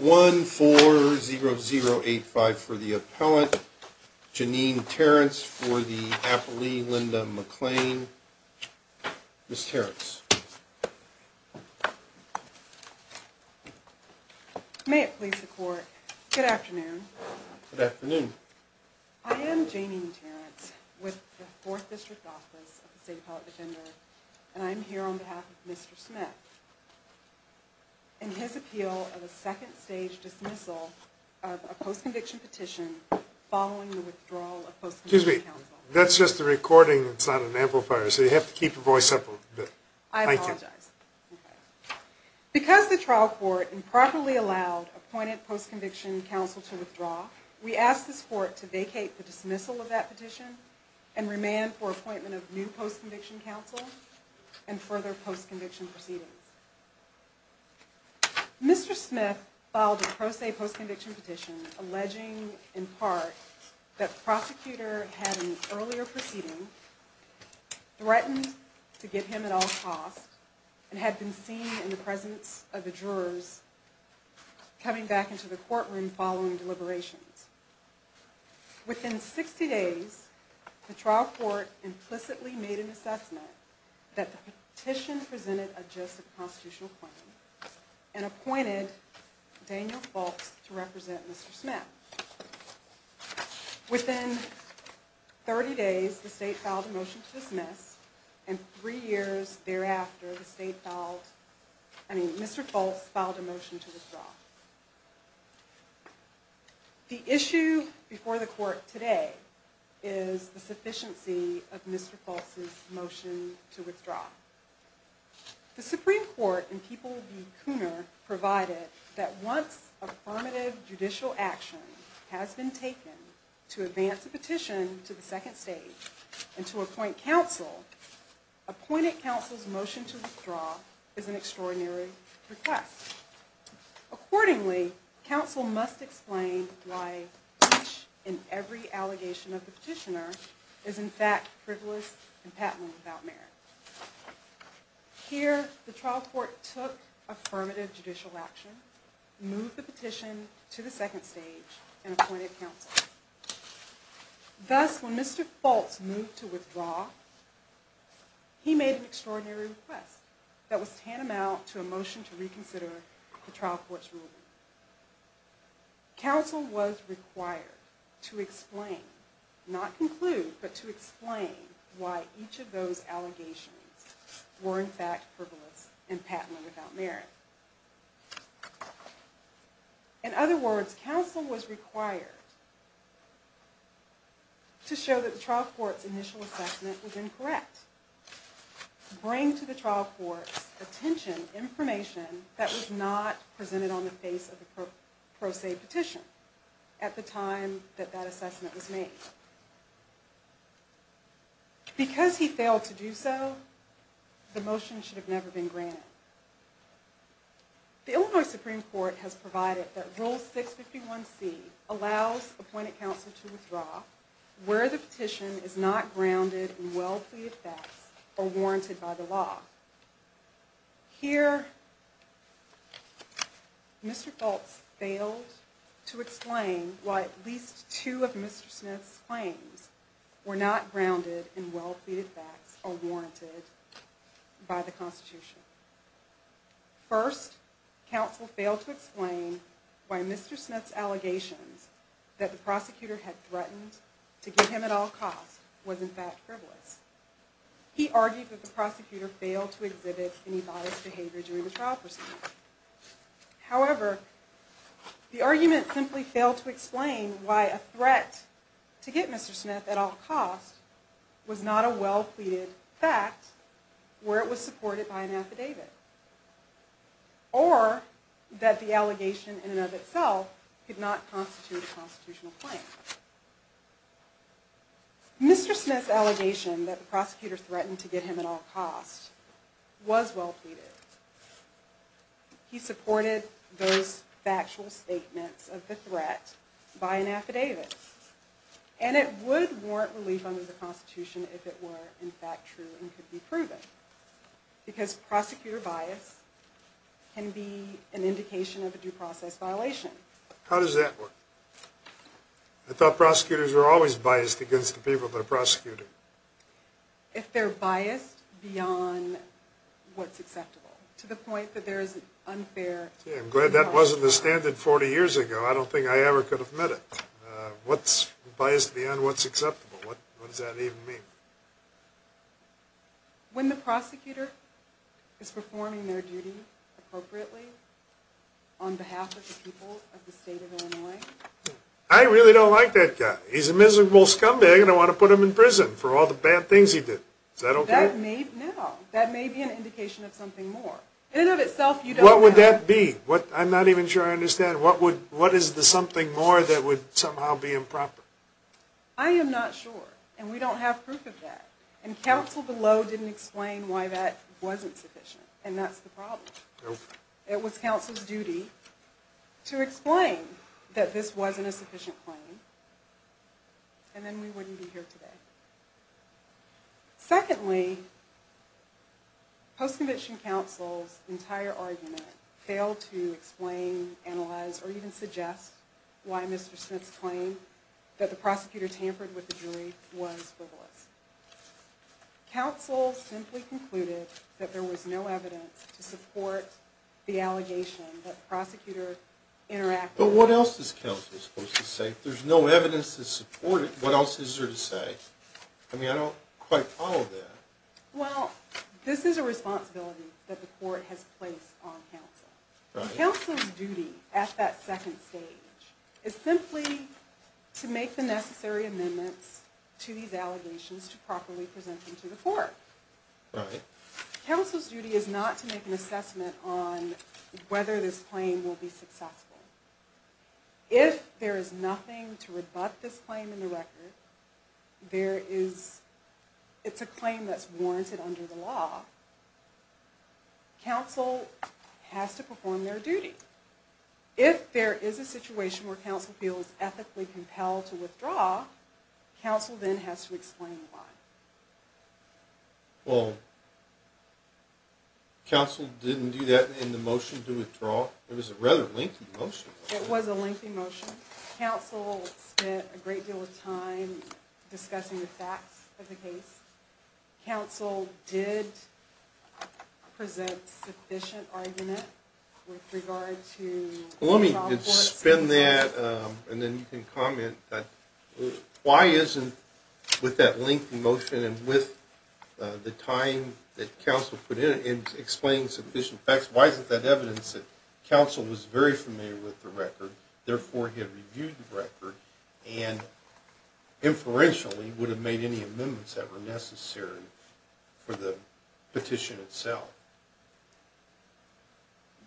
140085 for the appellant, Janine Terrence for the appellee, Linda McClain, Ms. Terrence. May it please the court, good afternoon. Good afternoon. I am Janine Terrence with the Fourth District Office of the State Appellate Defender, and I'm here on behalf of Mr. Smith in his appeal of a second stage dismissal of a post-conviction petition following the withdrawal of post-conviction counsel. Excuse me, that's just a recording, it's not an amplifier, so you have to keep your voice up a little bit. I apologize. Because the trial court improperly allowed appointed post-conviction counsel to withdraw, we ask this court to vacate the dismissal of that petition and remand for appointment of new post-conviction counsel and further post-conviction proceedings. Mr. Smith filed a pro se post-conviction petition alleging, in part, that the prosecutor had an earlier proceeding, threatened to get him at all costs, and had been seen in the presence of the jurors coming back into the courtroom following deliberations. Within 60 days, the trial court implicitly made an assessment that the petition presented a just constitutional claim and appointed Daniel Fulks to represent Mr. Smith. Within 30 days, the state filed a motion to dismiss, and three years thereafter, Mr. Fulks filed a motion to withdraw. The issue before the court today is the sufficiency of Mr. Fulks' motion to withdraw. The Supreme Court in People v. Cooner provided that once affirmative judicial action has been taken to advance a petition to the second stage and to appoint counsel, appointed counsel's motion to withdraw is an extraordinary request. Accordingly, counsel must explain why each and every allegation of the petitioner is in fact frivolous and patently without merit. Here, the trial court took affirmative judicial action, moved the petition to the second stage, and appointed counsel. Thus, when Mr. Fulks moved to withdraw, he made an extraordinary request that was tantamount to a motion to reconsider the trial court's ruling. Counsel was required to explain, not conclude, but to explain why each of those allegations were in fact frivolous and patently without merit. In other words, counsel was required to show that the trial court's initial assessment was incorrect, bring to the trial court's attention information that was not presented on the face of the pro se petition at the time that that assessment was made. Because he failed to do so, the motion should have never been granted. The Illinois Supreme Court has provided that Rule 651c allows appointed counsel to withdraw where the petition is not grounded in well-pleaded facts or warranted by the law. Here, Mr. Fulks failed to explain why at least two of Mr. Smith's claims were not grounded in well-pleaded facts or warranted by the Constitution. First, counsel failed to explain why Mr. Smith's allegations that the prosecutor had threatened to get him at all costs was in fact frivolous. He argued that the prosecutor failed to exhibit any biased behavior during the trial proceedings. However, the argument simply failed to explain why a threat to get Mr. Smith at all costs was not a well-pleaded fact where it was supported by an affidavit or that the allegation in and of itself could not constitute a constitutional claim. Mr. Smith's allegation that the prosecutor threatened to get him at all costs was well-pleaded. He supported those factual statements of the threat by an affidavit and it would warrant relief under the Constitution if it were in fact true and could be proven because prosecutor bias can be an indication of a due process violation. How does that work? I thought prosecutors were always biased against the people they're prosecuting. If they're biased beyond what's acceptable to the point that there is an unfair... I'm glad that wasn't the standard 40 years ago. I don't think I ever could have met it. What's biased beyond what's acceptable? What does that even mean? When the prosecutor is performing their duty appropriately on behalf of the people of the state of Illinois... I really don't like that guy. He's a miserable scumbag and I want to put him in prison for all the bad things he did. That may be an indication of something more. What would that be? I'm not even sure I understand. What is the something more that would somehow be improper? I am not sure and we don't have proof of that. And counsel below didn't explain why that wasn't sufficient and that's the problem. It was counsel's duty to explain that this wasn't a sufficient claim and then we wouldn't be here today. Secondly, post-conviction counsel's entire argument failed to explain, analyze, or even suggest... why Mr. Smith's claim that the prosecutor tampered with the jury was frivolous. Counsel simply concluded that there was no evidence to support the allegation that the prosecutor interacted... But what else is counsel supposed to say? If there's no evidence to support it, what else is there to say? I don't quite follow that. Well, this is a responsibility that the court has placed on counsel. Counsel's duty at that second stage is simply to make the necessary amendments to these allegations to properly present them to the court. Counsel's duty is not to make an assessment on whether this claim will be successful. If there is nothing to rebut this claim in the record, it's a claim that's warranted under the law, counsel has to perform their duty. If there is a situation where counsel feels ethically compelled to withdraw, counsel then has to explain why. Well, counsel didn't do that in the motion to withdraw. It was a rather lengthy motion. It was a lengthy motion. Counsel spent a great deal of time discussing the facts of the case. Counsel did present sufficient argument with regard to... Well, let me suspend that and then you can comment. Why isn't, with that lengthy motion and with the time that counsel put in explaining sufficient facts, why isn't that evidence that counsel was very familiar with the record, therefore he had reviewed the record, and inferentially would have made any amendments that were necessary for the petition itself?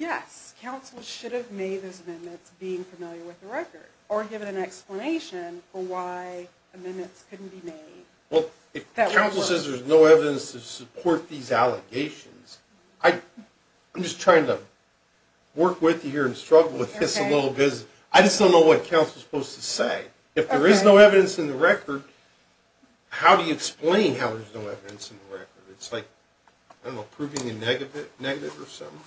Yes, counsel should have made those amendments being familiar with the record, or given an explanation for why amendments couldn't be made. Well, if counsel says there's no evidence to support these allegations, I'm just trying to work with you here and struggle with this a little bit. I just don't know what counsel's supposed to say. If there is no evidence in the record, how do you explain how there's no evidence in the record? It's like, I don't know, proving a negative or something?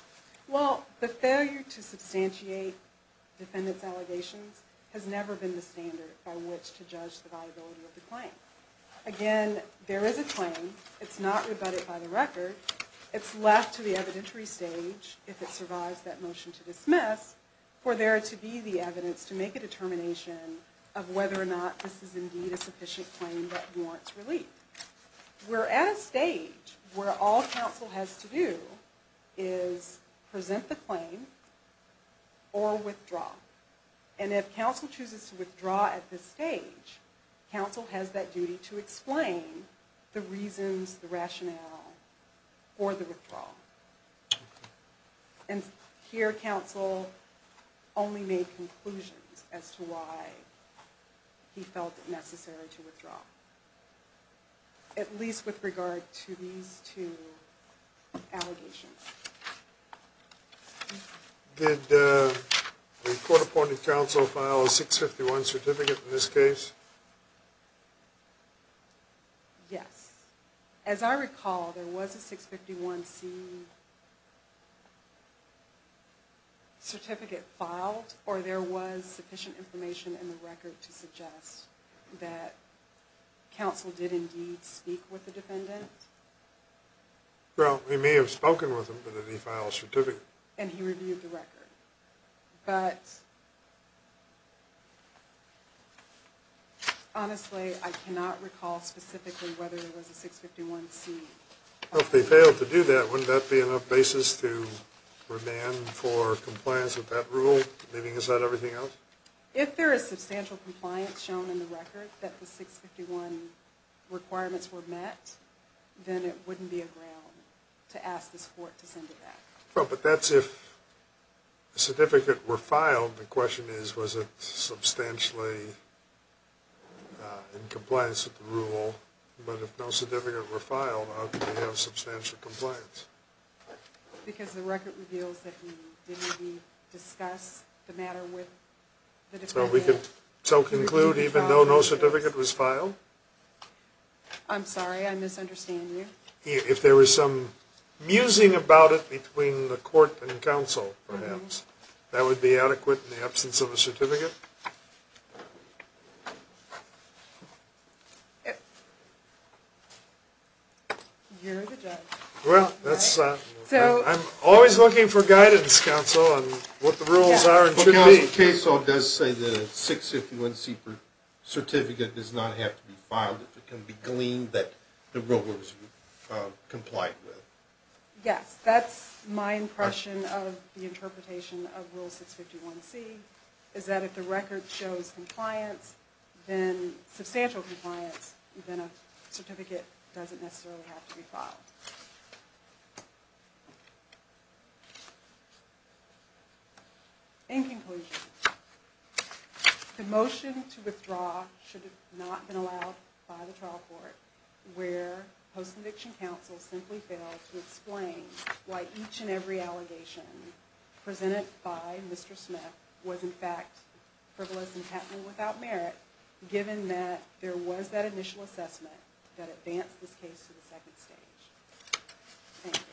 Well, the failure to substantiate defendant's allegations has never been the standard by which to judge the viability of the claim. Again, there is a claim. It's not rebutted by the record. It's left to the evidentiary stage, if it survives that motion to dismiss, for there to be the evidence to make a determination of whether or not this is indeed a sufficient claim that warrants relief. We're at a stage where all counsel has to do is present the claim or withdraw. And if counsel chooses to withdraw at this stage, counsel has that duty to explain the reasons, the rationale for the withdrawal. And here, counsel only made conclusions as to why he felt it necessary to withdraw. At least with regard to these two allegations. Did the court-appointed counsel file a 651C certificate in this case? Yes. As I recall, there was a 651C certificate filed, or there was sufficient information in the record to suggest that counsel did indeed speak with the defendant? Well, he may have spoken with him, but he filed a certificate. And he reviewed the record. But, honestly, I cannot recall specifically whether there was a 651C. Well, if they failed to do that, wouldn't that be enough basis to demand for compliance with that rule, leaving aside everything else? If there is substantial compliance shown in the record that the 651 requirements were met, then it wouldn't be a ground to ask this court to send it back. Well, but that's if the certificate were filed. The question is, was it substantially in compliance with the rule? Well, but if no certificate were filed, how could we have substantial compliance? Because the record reveals that he did indeed discuss the matter with the defendant. So we can conclude even though no certificate was filed? I'm sorry, I misunderstand you. If there was some musing about it between the court and counsel, perhaps, that would be adequate in the absence of a certificate? You're the judge. I'm always looking for guidance, counsel, on what the rules are. Counsel, the case law does say that a 651C certificate does not have to be filed if it can be gleaned that the rule was complied with. Yes, that's my impression of the interpretation of Rule 651C, is that if the record shows substantial compliance, then a certificate doesn't necessarily have to be filed. In conclusion, the motion to withdraw should not have been allowed by the trial court, where post-conviction counsel simply failed to explain why each and every allegation presented by Mr. Smith was in fact frivolous and patently without merit, given that there was that initial assessment that advanced this case to the second stage. Thank you.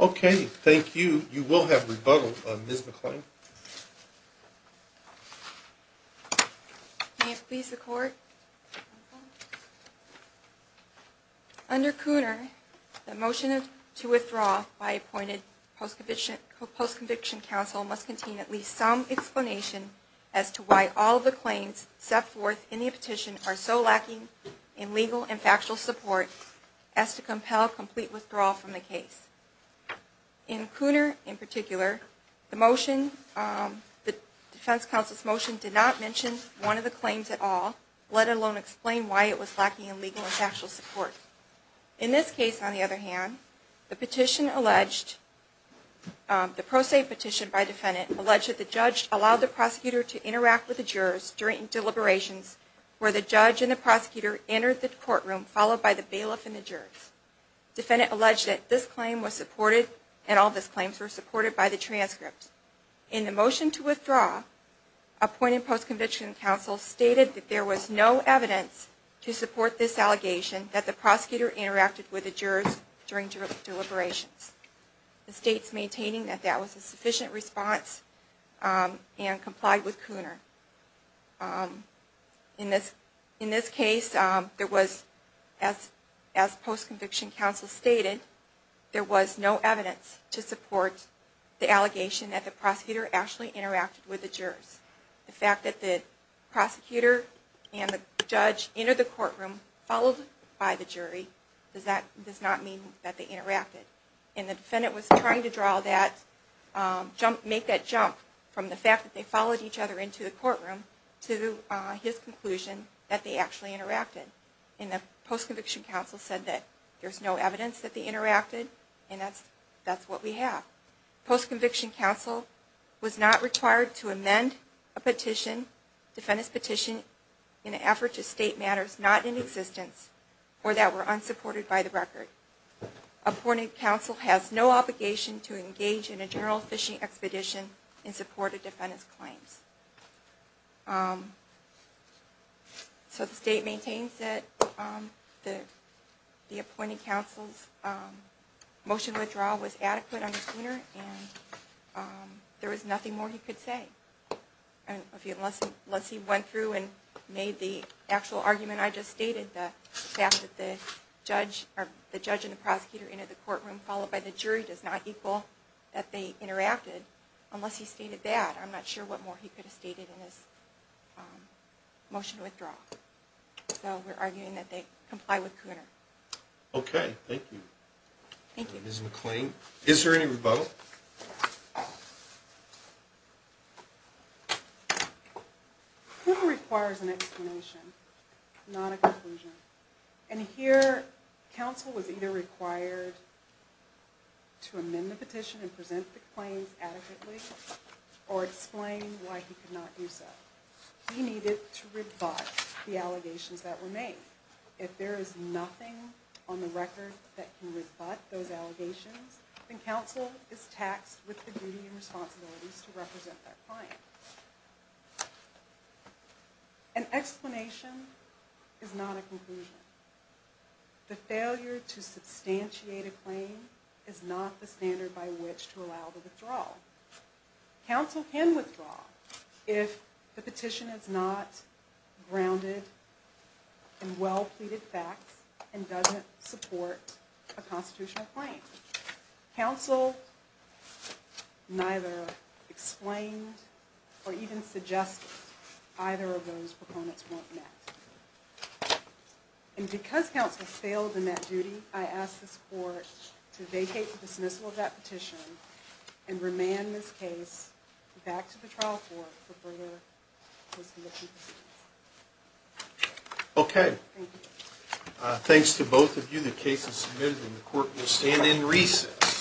Okay, thank you. You will have rebuttal, Ms. McClain. May it please the court? Under Cooner, the motion to withdraw by appointed post-conviction counsel must contain at least some explanation as to why all of the claims set forth in the petition are so lacking in legal and factual support as to compel complete withdrawal from the case. In Cooner, in particular, the defense counsel's motion did not mention one of the claims at all, let alone explain why it was lacking in legal and factual support. In this case, on the other hand, the pro se petition by defendant alleged that the judge allowed the prosecutor to interact with the jurors during deliberations where the judge and the prosecutor entered the courtroom, followed by the bailiff and the jurors. Defendant alleged that this claim was supported and all of these claims were supported by the transcript. In the motion to withdraw, appointed post-conviction counsel stated that there was no evidence to support this allegation that the prosecutor interacted with the jurors during deliberations. The state is maintaining that that was a sufficient response and complied with Cooner. In this case, as post-conviction counsel stated, there was no evidence to support the allegation that the prosecutor actually interacted with the jurors. The fact that the prosecutor and the judge entered the courtroom, followed by the jury, does not mean that they interacted. And the defendant was trying to make that jump from the fact that they followed each other into the courtroom to his conclusion that they actually interacted. And the post-conviction counsel said that there's no evidence that they interacted and that's what we have. Post-conviction counsel was not required to amend a petition, defendant's petition, in an effort to state matters not in existence or that were unsupported by the record. Appointed counsel has no obligation to engage in a general fishing expedition in support of defendant's claims. So the state maintains that the appointed counsel's motion to withdraw was adequate under Cooner and there was nothing more he could say. Unless he went through and made the actual argument I just stated, the fact that the judge and the prosecutor entered the courtroom, followed by the jury, does not equal that they interacted. Unless he stated that, I'm not sure what more he could have stated in his motion to withdraw. So we're arguing that they comply with Cooner. Okay, thank you. Thank you. Ms. McLean, is there any rebuttal? Cooner requires an explanation, not a conclusion. And here, counsel was either required to amend the petition and present the claims adequately or explain why he could not do so. He needed to rebut the allegations that were made. If there is nothing on the record that can rebut those allegations, then counsel is taxed with the duty and responsibilities to represent that claim. An explanation is not a conclusion. The failure to substantiate a claim is not the standard by which to allow the withdrawal. Counsel can withdraw if the petition is not grounded in well-pleaded facts and doesn't support a constitutional claim. Counsel neither explained or even suggested either of those proponents weren't met. And because counsel failed in that duty, I ask this court to vacate the dismissal of that petition and remand this case back to the trial court for further dismissal proceedings. Okay. Thank you. The case is submitted and the court will stand in recess.